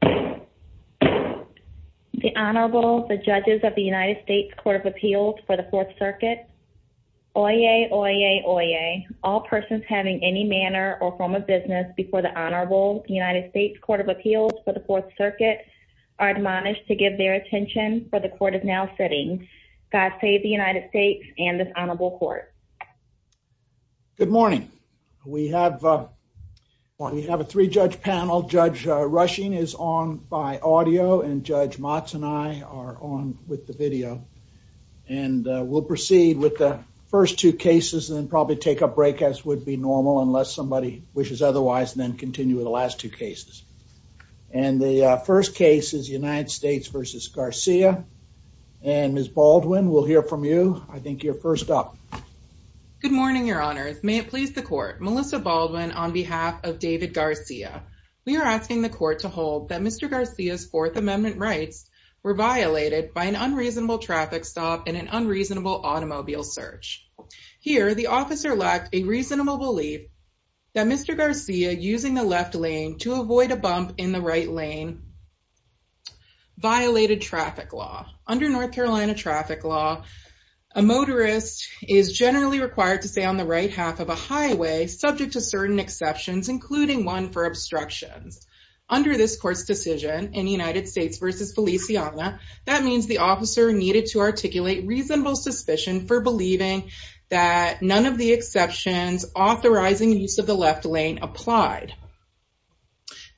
The Honorable, the Judges of the United States Court of Appeals for the Fourth Circuit. Oyez, oyez, oyez. All persons having any manner or form of business before the Honorable United States Court of Appeals for the Fourth Circuit are admonished to give their attention for the Court is now sitting. God save the United States and this Honorable Court. Good morning. We have, we have a three-judge panel. Judge Rushing is on by audio and Judge Motz and I are on with the video. And we'll proceed with the first two cases and probably take a break as would be normal unless somebody wishes otherwise and then continue with the last two cases. And the first case is United States v. Garcia. And Ms. Baldwin, we'll hear from you. I think you're first up. Good morning, Your Honors. May it please the Court. Melissa Baldwin on behalf of David Garcia. We are asking the Court to hold that Mr. Garcia's Fourth Amendment rights were violated by an unreasonable traffic stop and an unreasonable automobile search. Here, the officer lacked a reasonable belief that Mr. Garcia using the left lane to avoid a bump in the right lane violated traffic law. Under North Carolina traffic law, a motorist is generally required to stay on the right half of a highway subject to certain exceptions, including one for obstructions. Under this Court's decision in United States v. Feliciana, that means the officer needed to articulate reasonable suspicion for believing that none of the exceptions authorizing use of the left lane applied.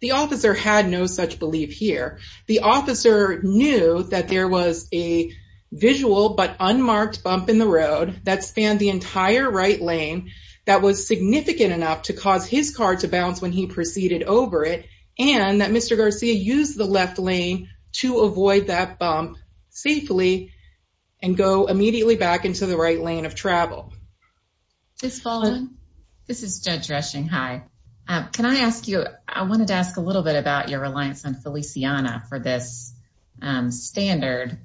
The officer had no such belief here. The officer knew that there was a visual but unmarked bump in the road that spanned the entire right lane that was significant enough to cause his car to bounce when he proceeded over it and that Mr. Garcia used the left lane to avoid that bump safely and go immediately back into the right lane of travel. Ms. Baldwin, this is Judge Reshing. Hi. Can I ask you, I wanted to ask a little bit about your reliance on Feliciana for this standard.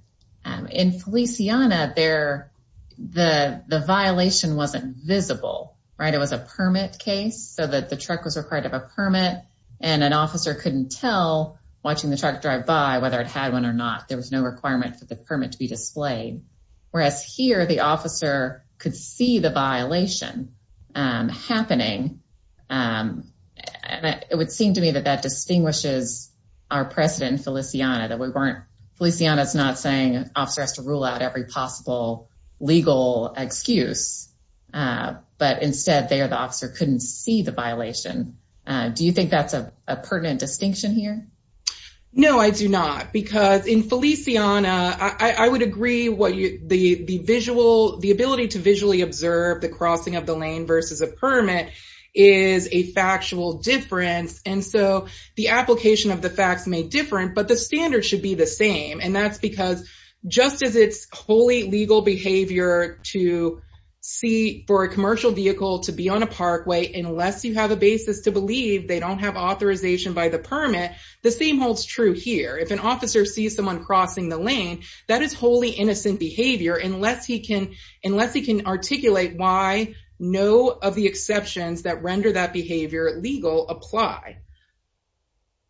In Feliciana, the violation wasn't visible, right? It was a permit case so that the truck was required to have a permit and an officer couldn't tell watching the truck drive by whether it had one or not. There was no requirement for the truck to have a permit. Whereas here, the officer could see the violation happening. And it would seem to me that that distinguishes our precedent in Feliciana, that we weren't, Feliciana is not saying officer has to rule out every possible legal excuse. But instead, there, the officer couldn't see the violation. Do you think that's a pertinent distinction here? No, I do not. Because in Feliciana, I would agree what you the visual, the ability to visually observe the crossing of the lane versus a permit is a factual difference. And so the application of the facts may different, but the standard should be the same. And that's because just as it's wholly legal behavior to see for a commercial vehicle to be on a parkway, unless you have a basis to permit, the same holds true here. If an officer sees someone crossing the lane, that is wholly innocent behavior, unless he can, unless he can articulate why no of the exceptions that render that behavior legal apply.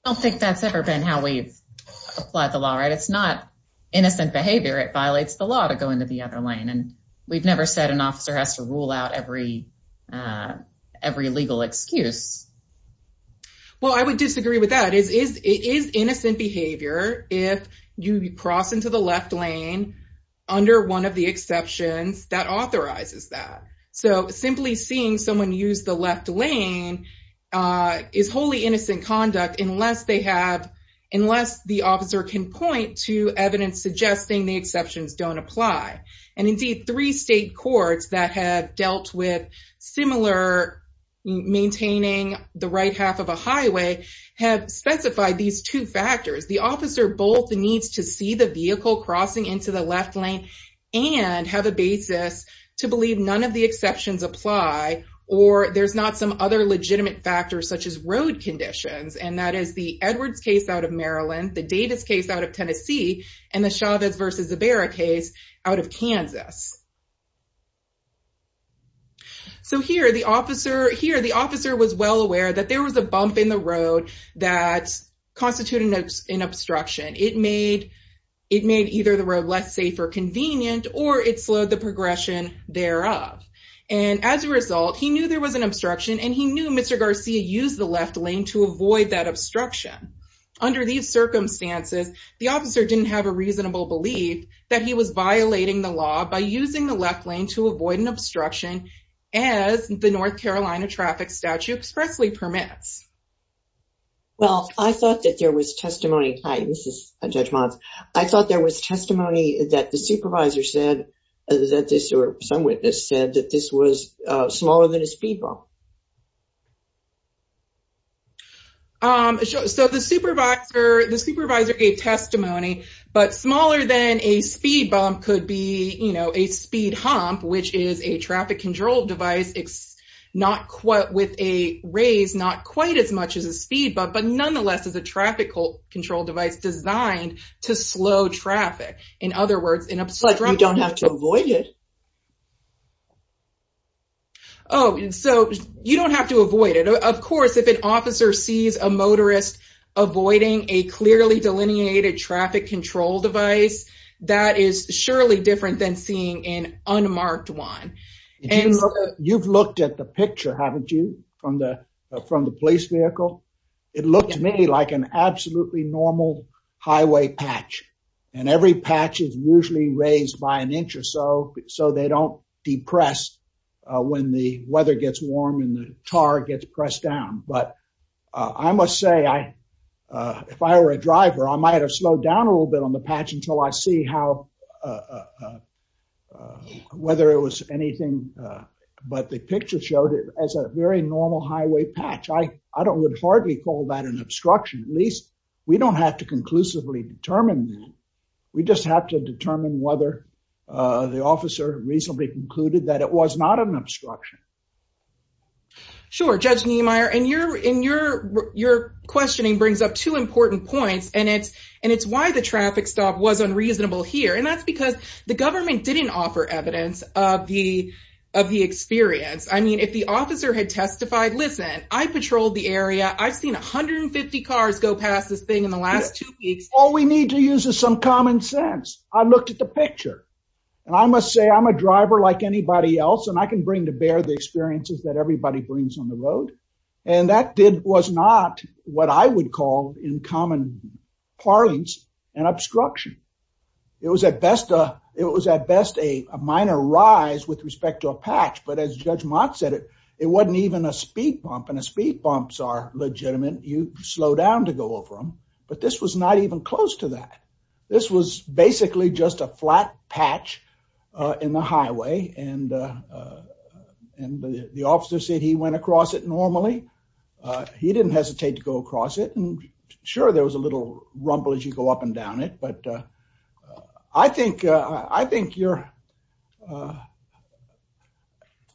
I don't think that's ever been how we've applied the law, right? It's not innocent behavior, it violates the law to go into the other lane. And we've never said an officer has to rule out every, every legal excuse. Well, I would disagree with that is, is it is innocent behavior if you cross into the left lane under one of the exceptions that authorizes that. So simply seeing someone use the left lane is wholly innocent conduct unless they have, unless the officer can point to evidence suggesting the exceptions don't apply. And indeed, three state courts that have dealt with similar maintaining the right half of a highway have specified these two factors. The officer both needs to see the vehicle crossing into the left lane and have a basis to believe none of the exceptions apply, or there's not some other legitimate factors such as road conditions. And that is the Edwards case out of Maryland, the Davis case out of Tennessee, and the Chavez versus Zubera case out of Kansas. So here the officer here, the officer was well aware that there was a bump in the road that constituted an obstruction, it made, it made either the road less safe or convenient, or it slowed the progression thereof. And as a result, he knew there was an obstruction, and he knew Mr. Garcia used the left lane to avoid that obstruction. Under these circumstances, the officer didn't have a reasonable belief that he was violating the law by using the left lane. And so he decided to use the left lane to avoid an obstruction, as the North Carolina traffic statute expressly permits. Well, I thought that there was testimony, hi, this is Judge Motz. I thought there was testimony that the supervisor said that this or some witness said that this was smaller than a speed bump. So the supervisor, the supervisor gave testimony, but smaller than a speed bump could be, you know, a speed hump, which is a traffic control device, it's not quite with a raise, not quite as much as a speed bump, but nonetheless, as a traffic control device designed to slow traffic. In other words, in a... But you don't have to avoid it. Oh, so you don't have to avoid it. Of course, if an officer sees a motorist, avoiding a clearly delineated traffic control device, that is surely different than seeing an unmarked one. You've looked at the picture, haven't you? From the police vehicle. It looked to me like an absolutely normal highway patch. And every patch is usually raised by an inch or so, so they don't depress when the weather gets warm and the tar gets pressed down. But I must say, if I were a driver, I might have slowed down a little bit on the patch until I see how, whether it was anything, but the picture showed it as a very normal highway patch. I don't, would hardly call that an obstruction, at least we don't have to conclusively determine that. We just have to determine whether the officer reasonably concluded that it was not an obstruction. Sure. Judge Niemeyer, and your questioning brings up two important points, and it's why the traffic stop was unreasonable here. And that's because the government didn't offer evidence of the experience. I mean, if the officer had testified, listen, I patrolled the area, I've seen 150 cars go past this thing in the last two weeks. All we need to use is some common sense. I looked at the picture. And I must say, I'm a driver like anybody else, and I can bring to bear the experiences that everybody brings on the road. And that did, was not what I would call in common parlance, an obstruction. It was at best, it was at best a minor rise with respect to a patch. But as Judge Mott said, it wasn't even a speed bump, and a speed bumps are legitimate, you slow down to go over them. But this was not close to that. This was basically just a flat patch in the highway. And the officer said he went across it normally. He didn't hesitate to go across it. And sure, there was a little rumble as you go up and down it. But I think your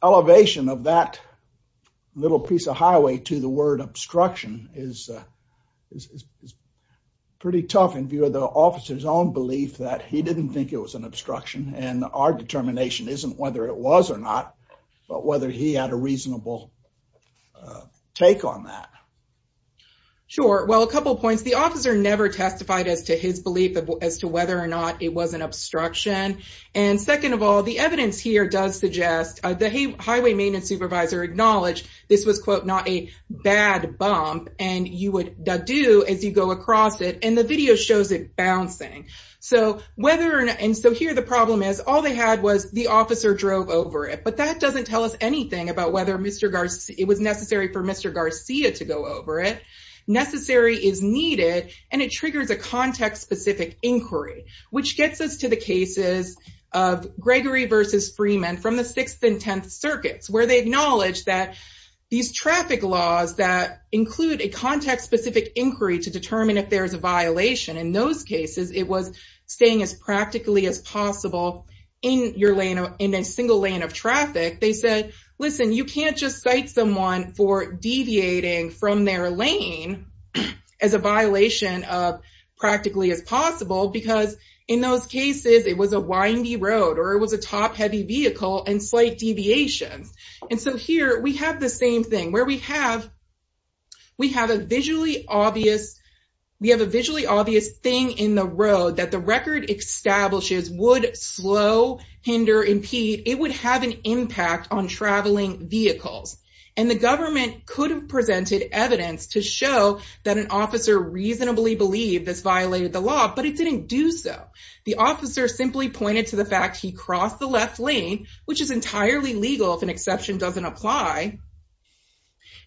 elevation of that little piece of highway to the in view of the officer's own belief that he didn't think it was an obstruction. And our determination isn't whether it was or not, but whether he had a reasonable take on that. Sure. Well, a couple of points. The officer never testified as to his belief as to whether or not it was an obstruction. And second of all, the evidence here does suggest, the highway maintenance supervisor acknowledged this was, quote, not a bad bump. And you would do as you go across it. The video shows it bouncing. And so here the problem is, all they had was the officer drove over it. But that doesn't tell us anything about whether it was necessary for Mr. Garcia to go over it. Necessary is needed, and it triggers a context-specific inquiry, which gets us to the cases of Gregory versus Freeman from the Sixth and Tenth Circuits, where they acknowledge that these traffic laws that include a context-specific inquiry to determine if there's a violation, in those cases, it was staying as practically as possible in a single lane of traffic. They said, listen, you can't just cite someone for deviating from their lane as a violation of practically as possible, because in those cases, it was a windy road, or it was a top-heavy vehicle and slight deviations. And so here we have the same thing, where we have a visually obvious thing in the road that the record establishes would slow, hinder, impede. It would have an impact on traveling vehicles. And the government could have presented evidence to show that an officer reasonably believed this violated the law, but it didn't do so. The officer simply pointed to the fact he crossed the left lane, which is entirely legal if an exception doesn't apply,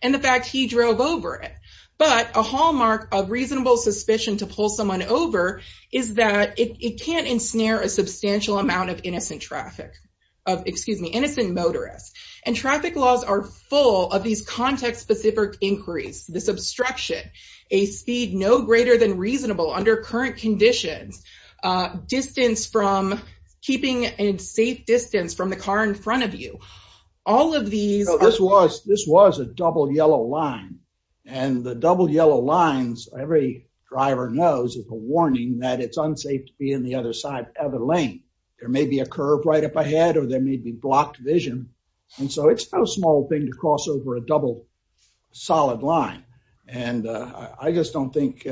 and the fact he drove over it. But a hallmark of reasonable suspicion to pull someone over is that it can't ensnare a substantial amount of innocent traffic, of, excuse me, innocent motorists. And traffic laws are full of these context-specific inquiries, this obstruction, a speed no greater than reasonable under current conditions, distance from, keeping a safe distance from the car in front of you. All of these... So this was a double yellow line. And the double yellow lines, every driver knows, is a warning that it's unsafe to be on the other side of the lane. There may be a curve right up ahead, or there may be blocked vision. And so it's no small thing to cross over a double solid line. And I just don't think...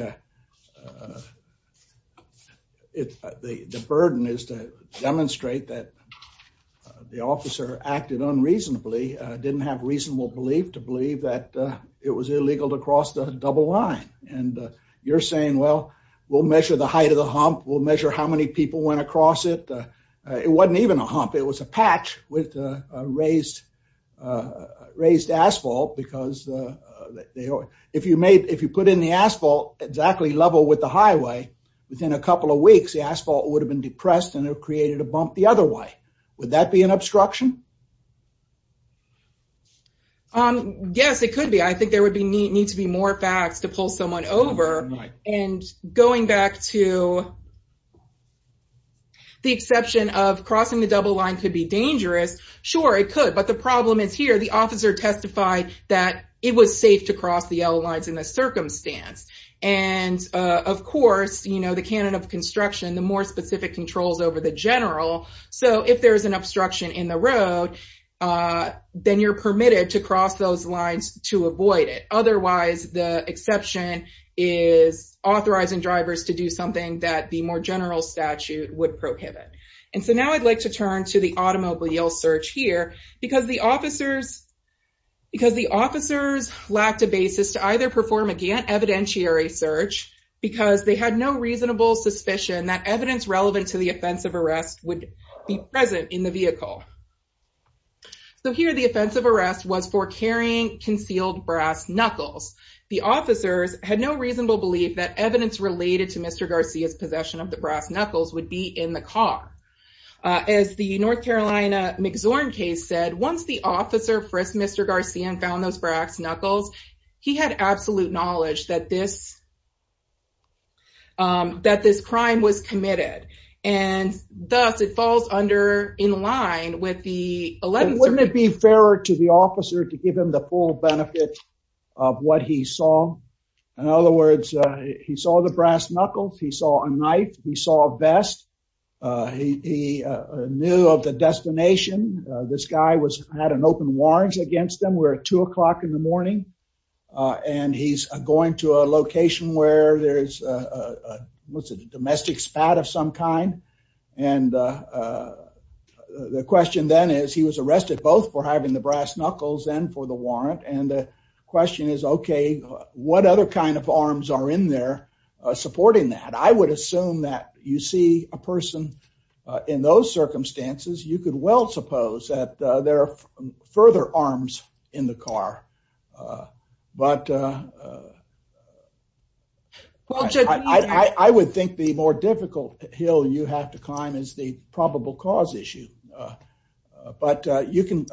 The burden is to demonstrate that the officer acted unreasonably, didn't have reasonable belief to believe that it was illegal to cross the double line. And you're saying, well, we'll measure the height of the hump, we'll measure how many people went across it. It wasn't even a hump, it was a bump. If you put in the asphalt exactly level with the highway, within a couple of weeks, the asphalt would have been depressed and it created a bump the other way. Would that be an obstruction? Yes, it could be. I think there would need to be more facts to pull someone over. And going back to the exception of crossing the double line could be dangerous. Sure, it could, but the problem is here, the officer testified that it was safe to cross the yellow lines in the circumstance. And of course, the canon of construction, the more specific controls over the general. So if there's an obstruction in the road, then you're permitted to cross those lines to avoid it. Otherwise, the exception is authorizing drivers to do something that the more general statute would prohibit. And so now I'd like to turn to the automobile search here, because the officers lacked a basis to either perform a Gantt evidentiary search, because they had no reasonable suspicion that evidence relevant to the offensive arrest would be present in the vehicle. So here the offensive arrest was for carrying concealed brass knuckles. The officers had no reasonable belief that evidence related to Mr. Garcia's possession of the brass knuckles would be in the car. As the North Carolina McZorn case said, once the officer for Mr. Garcia found those brass knuckles, he had absolute knowledge that this crime was committed. And thus it falls under in line with the 11th- Wouldn't it be fairer to the officer to give him the full benefit of what he saw? In other words, he saw the brass knuckles. He saw a knife. He saw a vest. He knew of the destination. This guy had an open warrants against them. We're at two o'clock in the morning. And he's going to a location where there's a domestic spat of some kind. And the question then is he was arrested both for having the brass knuckles and for the warrant. And the question is, okay, what other kind of arms are in there supporting that? I would assume that you see a person in those circumstances, you could well suppose that there are further arms in the car. But I would think the more difficult hill you have to climb is the probable cause issue. But you can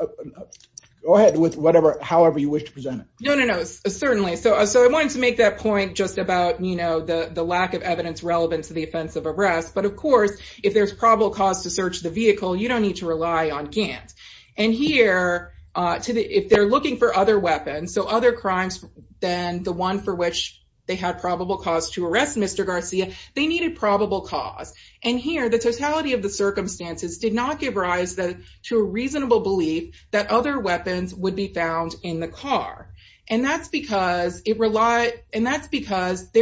go ahead with whatever, however you wish to present it. No, no, no, certainly. So I wanted to make that point just about, you know, the lack of evidence relevant to the offense of arrest. But of course, if there's probable cause to search the vehicle, you don't need to rely on Gant. And here, if they're looking for other weapons, so other crimes than the one for which they had probable cause to arrest Mr. Garcia, they needed probable cause. And here, the totality of circumstances did not give rise to a reasonable belief that other weapons would be found in the car. And that's because there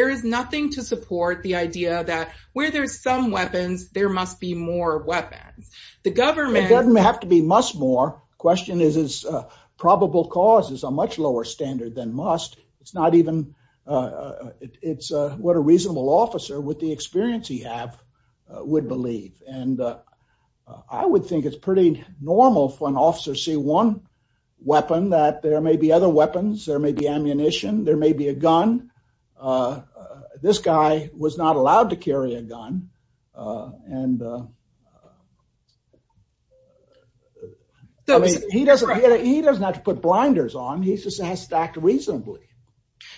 is nothing to support the idea that where there's some weapons, there must be more weapons. The government- It doesn't have to be must more. The question is, is probable cause is a much lower standard than must. It's not even, it's what a reasonable officer with the experience he have would believe. And I would think it's pretty normal for an officer to see one weapon that there may be other weapons, there may be ammunition, there may be a gun. This guy was not allowed to carry a gun. And he doesn't have to put blinders on, he just has to act reasonably.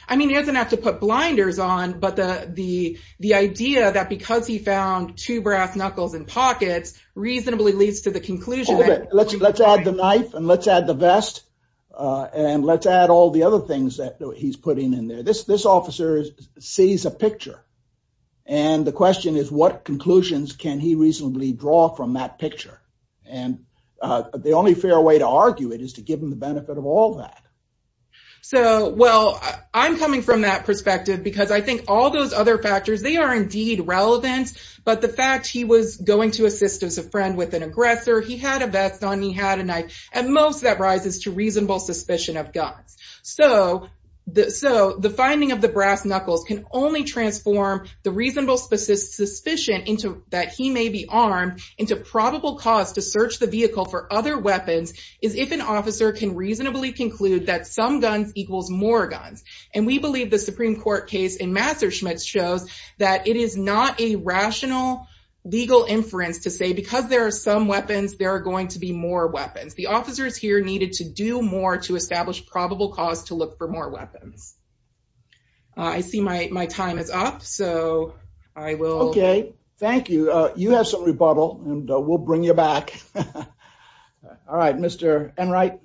I mean, he doesn't have to put blinders on, but the idea that because he found two brass knuckles in pockets reasonably leads to the conclusion- Let's add the knife and let's add the vest and let's add all the other things that he's putting in there. This officer sees a picture and the question is, what conclusions can he reasonably draw from that picture? And the only fair way to argue it is to give him the benefit of all that. So, well, I'm coming from that perspective because I think all those other factors, they are indeed relevant. But the fact he was going to assist as a friend with an aggressor, he had a vest on, he had a knife, and most of that rises to reasonable suspicion of guns. So, the finding of the brass knuckles can only transform the reasonable suspicion that he may be armed into probable cause to search the vehicle for other weapons is if an officer can reasonably conclude that some guns equals more guns. And we believe the Supreme Court case in Messerschmitt shows that it is not a rational legal inference to say because there are some weapons, there are going to be more weapons. The officers here needed to do more to establish probable cause to look for more weapons. I see my time is up, so I will- we'll bring you back. All right, Mr. Enright.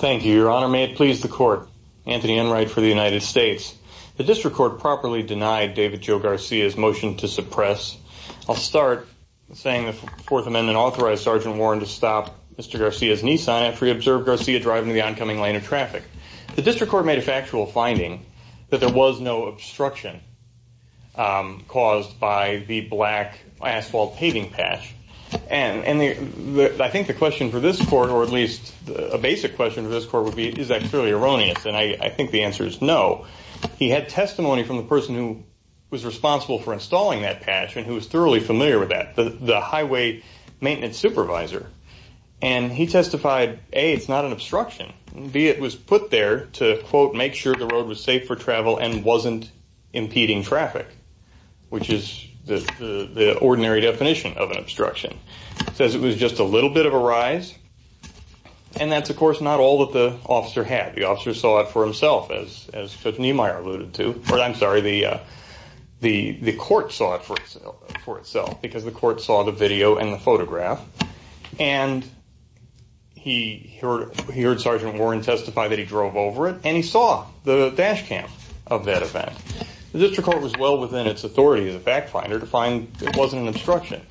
Thank you, your honor. May it please the court. Anthony Enright for the United States. The district court properly denied David Joe Garcia's motion to suppress. I'll start saying the Fourth Amendment authorized Sergeant Warren to stop Mr. Garcia's Nissan after he observed Garcia driving the oncoming lane of traffic. The district court made a factual finding that there was no obstruction caused by the black asphalt paving patch. And I think the question for this court, or at least a basic question for this court would be, is that clearly erroneous? And I think the answer is no. He had testimony from the person who was responsible for installing that patch and who was thoroughly familiar with that, the highway maintenance supervisor. And he testified, A, it's not an obstruction. B, it was put there to, quote, make sure the road was safe for travel and wasn't impeding traffic, which is the ordinary definition of an obstruction. It says it was just a little bit of a rise. And that's, of course, not all that the officer had. The officer saw it for himself, as Judge Niemeyer alluded to, or I'm sorry, the court saw it for itself because the court saw the video and the photograph. And he heard Sergeant Warren testify that he drove over it, and he saw the dash cam of that event. The district court was well within its authority as a fact finder to find it wasn't an obstruction.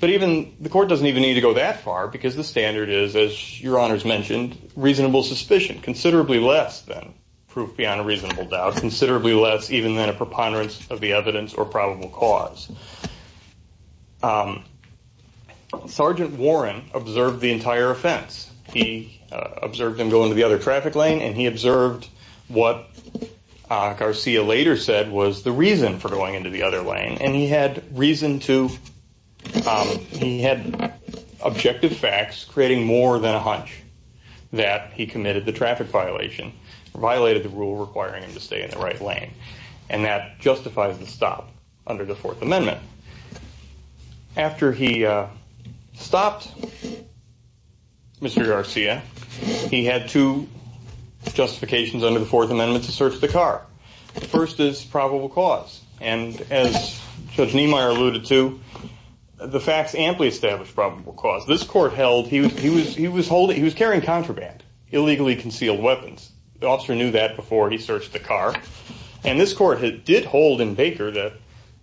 But even the court doesn't even need to go that far because the standard is, as your honors mentioned, reasonable suspicion, considerably less than proof beyond a reasonable doubt, considerably less even than a preponderance of the evidence or probable cause. Sergeant Warren observed the entire offense. He observed him go into the other traffic lane, and he observed what Garcia later said was the reason for going into the other lane. And he had reason to, he had objective facts creating more than a hunch that he committed the traffic violation, violated the rule requiring him to stay in the right lane. And that justifies the stop under the Fourth Amendment. After he stopped Mr. Garcia, he had two justifications under the Fourth Amendment to search the car. The first is probable cause. And as Judge Niemeyer alluded to, the facts amply established probable cause. This court held he was carrying contraband, illegally concealed weapons. The officer knew that before he searched the car. And this court did hold in Baker that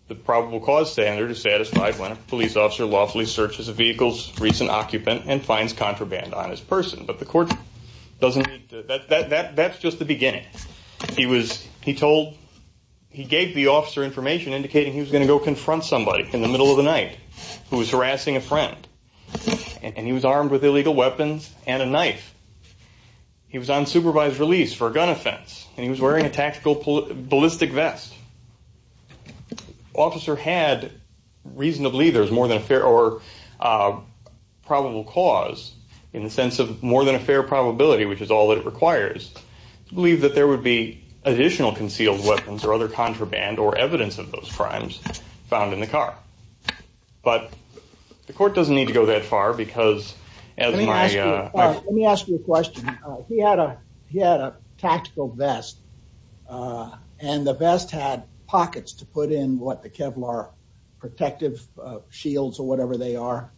the probable cause standard is satisfied when a police officer lawfully searches a vehicle's recent occupant and finds contraband on his person. But the court doesn't need to, that's just the beginning. He was, he told, he gave the officer information indicating he was going to go confront somebody in the middle of the night who was harassing a friend. And he was armed with illegal weapons and a knife. He was on supervised release for a gun offense. And he was wearing a tactical ballistic vest. The officer had reasonably, there's more than a fair or probable cause in the sense of more than a fair probability, which is all that it requires, to believe that there would be additional concealed weapons or other contraband or evidence of those crimes found in the car. But the court doesn't need to go that far because as my... Let me ask you a question. He had a tactical vest and the vest had pockets to put in what the Kevlar protective shields or whatever they are.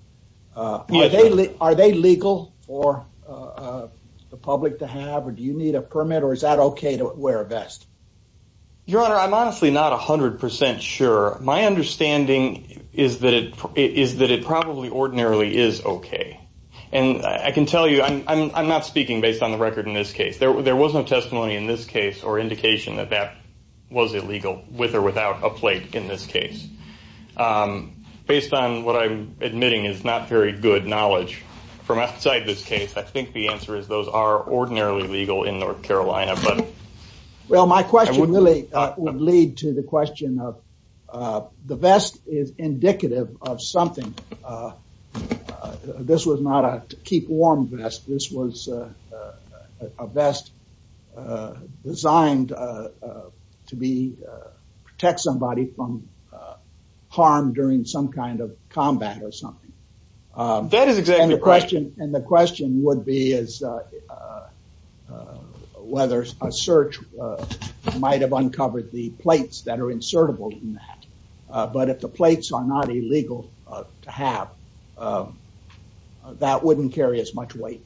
Are they legal for the public to have or do you need a permit or is that okay to wear a vest? Your Honor, I'm honestly not a hundred percent sure. My understanding is that it probably ordinarily is okay. And I can tell you, I'm not speaking based on the record in this case. There was no testimony in this case or indication that that was illegal with or without a plate in this case. Based on what I'm admitting is not very good knowledge from outside this case, I think the answer is those are ordinarily legal in North Carolina, but... Well, my question really would lead to the question of the vest is indicative of something. This was not a keep warm vest. This was a vest designed to protect somebody from harm during some kind of combat or a... Whether a search might have uncovered the plates that are insertable in that. But if the plates are not illegal to have, that wouldn't carry as much weight.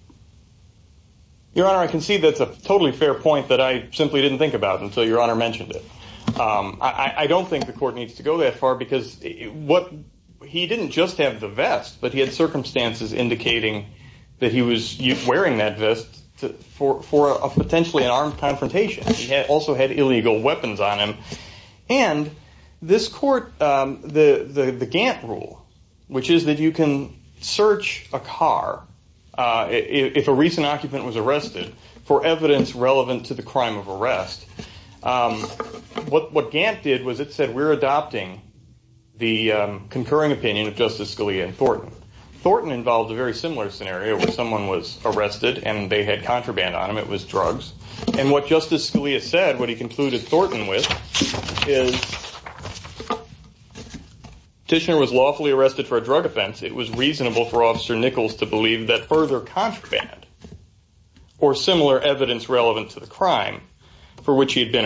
Your Honor, I can see that's a totally fair point that I simply didn't think about until Your Honor mentioned it. I don't think the court needs to go that far because what he didn't just have the vest, but he had circumstances indicating that he was wearing that vest for a potentially an armed confrontation. He also had illegal weapons on him. And this court, the Gantt rule, which is that you can search a car if a recent occupant was arrested for evidence relevant to the crime of arrest. What Gantt did was it said, we're adopting the concurring opinion of Justice Scalia and Thornton. Thornton involved a very similar scenario where someone was arrested and they had contraband on him. It was drugs. And what Justice Scalia said, what he concluded Thornton with is, Tishner was lawfully arrested for a drug offense. It was reasonable for Officer Nichols to believe that further contraband or similar evidence relevant to the crime for which he had been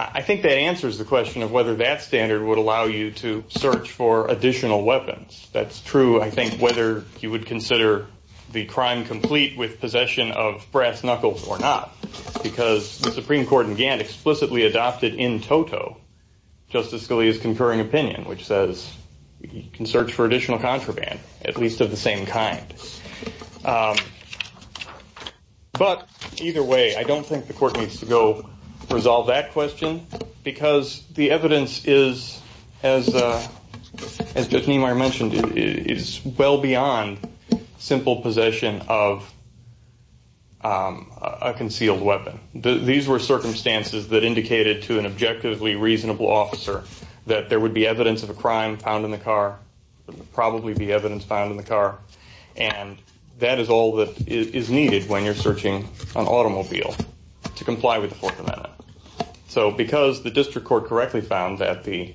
I think that answers the question of whether that standard would allow you to search for additional weapons. That's true. I think whether you would consider the crime complete with possession of brass knuckles or not, because the Supreme Court in Gantt explicitly adopted in toto Justice Scalia's concurring opinion, which says you can search for additional contraband, at least of the same kind. But either way, I don't think the court needs to go resolve that question, because the evidence is, as Justice Niemeyer mentioned, is well beyond simple possession of a concealed weapon. These were circumstances that indicated to an objectively reasonable officer that there would be evidence of a crime found in the car, probably be evidence found in the car. And that is all that is needed when you're searching an automobile to comply with the Fourth Amendment. So because the district court correctly found that the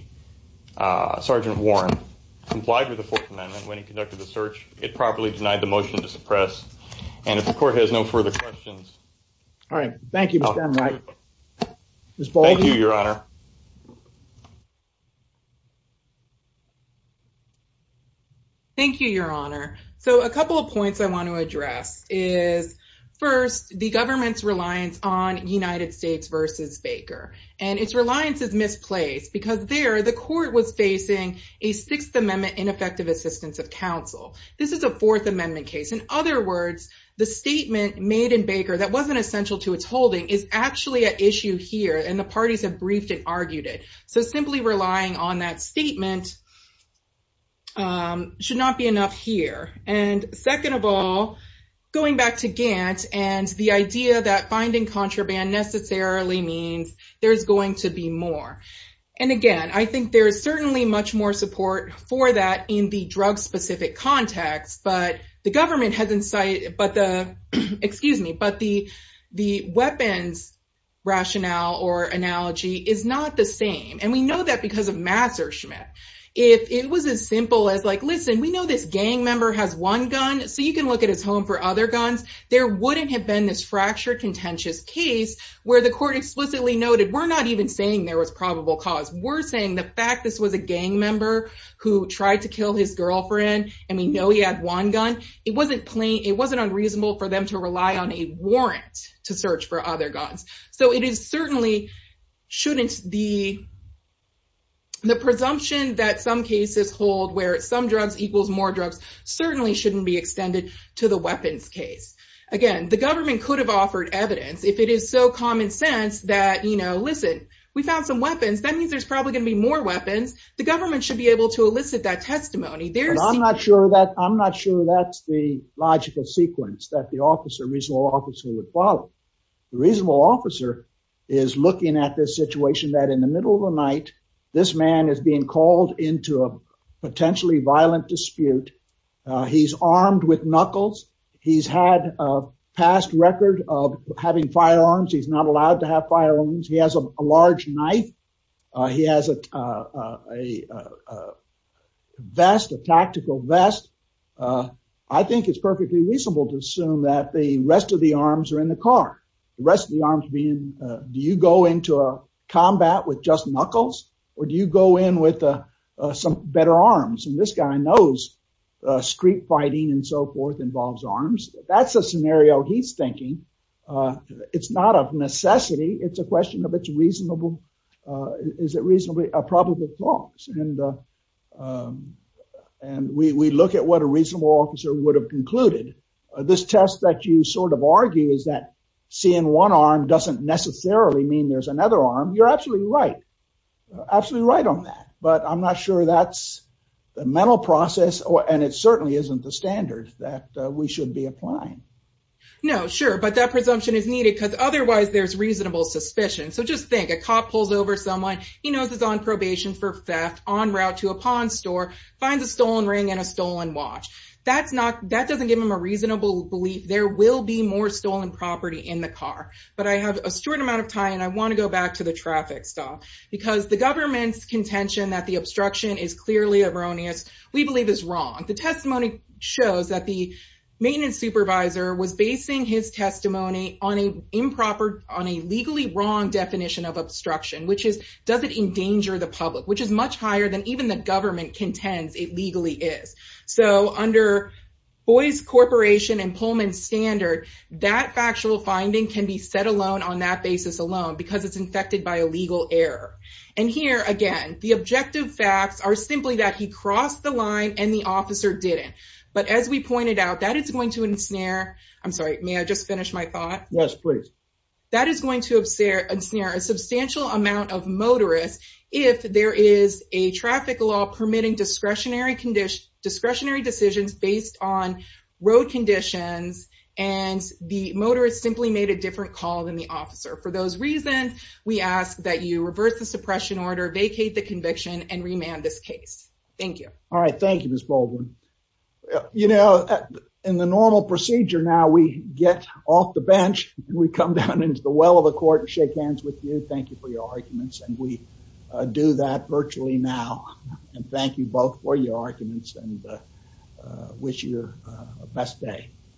Sergeant Warren complied with the Fourth Amendment when he conducted the search, it properly denied the motion to suppress. And if the court has no further questions. All right. Thank you. All right. Thank you, Your Honor. Thank you, Your Honor. So a couple of points I want to address is, first, the government's reliance on United States v. Baker. And its reliance is misplaced because there the court was facing a Sixth Amendment ineffective assistance of counsel. This is a Fourth Amendment case. In words, the statement made in Baker that wasn't essential to its holding is actually an issue here. And the parties have briefed and argued it. So simply relying on that statement should not be enough here. And second of all, going back to Gantt and the idea that finding contraband necessarily means there's going to be more. And again, I think there is certainly much more support for that in the drug specific context. But the government has insight. But the excuse me, but the the weapons rationale or analogy is not the same. And we know that because of Master Schmitt, if it was as simple as like, listen, we know this gang member has one gun. So you can look at his home for other guns. There wouldn't have been this fractured contentious case where the court explicitly noted, we're not even saying there was probable cause. We're saying the was a gang member who tried to kill his girlfriend. And we know he had one gun. It wasn't plain. It wasn't unreasonable for them to rely on a warrant to search for other guns. So it is certainly the presumption that some cases hold where some drugs equals more drugs certainly shouldn't be extended to the weapons case. Again, the government could have offered evidence if it is so common sense that, you know, listen, we found some weapons. That means there's probably going to be more weapons. The government should be able to elicit that testimony there. I'm not sure that I'm not sure that's the logical sequence that the officer reasonable officer would follow. The reasonable officer is looking at this situation that in the middle of the night, this man is being called into a potentially violent dispute. He's armed with knuckles. He's had a past record of having firearms. He's not allowed to have firearms. He has a large knife. He has a vest, a tactical vest. I think it's perfectly reasonable to assume that the rest of the arms are in the car. The rest of the arms being, do you go into a combat with just knuckles or do you go in with some better arms? And this guy knows street fighting and so forth involves arms. That's a scenario he's thinking. It's not a necessity. It's a question of it's reasonable is it reasonably a probable cause. And we look at what a reasonable officer would have concluded. This test that you sort of argue is that seeing one arm doesn't necessarily mean there's another arm. You're absolutely right. Absolutely right on that. But I'm not sure that's the mental process and it certainly isn't the standard that we should be applying. No, sure. But that presumption is needed because otherwise there's reasonable suspicion. So just a cop pulls over someone, he knows he's on probation for theft, on route to a pawn store, finds a stolen ring and a stolen watch. That doesn't give him a reasonable belief there will be more stolen property in the car. But I have a short amount of time and I want to go back to the traffic stop because the government's contention that the obstruction is clearly erroneous, we believe is wrong. The testimony shows that the maintenance supervisor was basing his testimony on a legally wrong definition of obstruction, which is does it endanger the public, which is much higher than even the government contends it legally is. So under Boyce Corporation and Pullman standard, that factual finding can be set alone on that basis alone because it's infected by a legal error. And here again, the objective facts are simply that he crossed the line and the officer didn't. But as we pointed out that it's going to ensnare, I'm sorry, may I just finish my thought? Yes, please. That is going to ensnare a substantial amount of motorists if there is a traffic law permitting discretionary decisions based on road conditions and the motorist simply made a different call than the officer. For those reasons, we ask that you reverse the suppression order, vacate the conviction and remand this case. Thank you. All right. Thank you, Ms. Baldwin. You know, in the normal procedure now we get off the bench, we come down into the well of the court and shake hands with you. Thank you for your arguments. And we do that virtually now. And thank you both for your arguments and wish you a best day.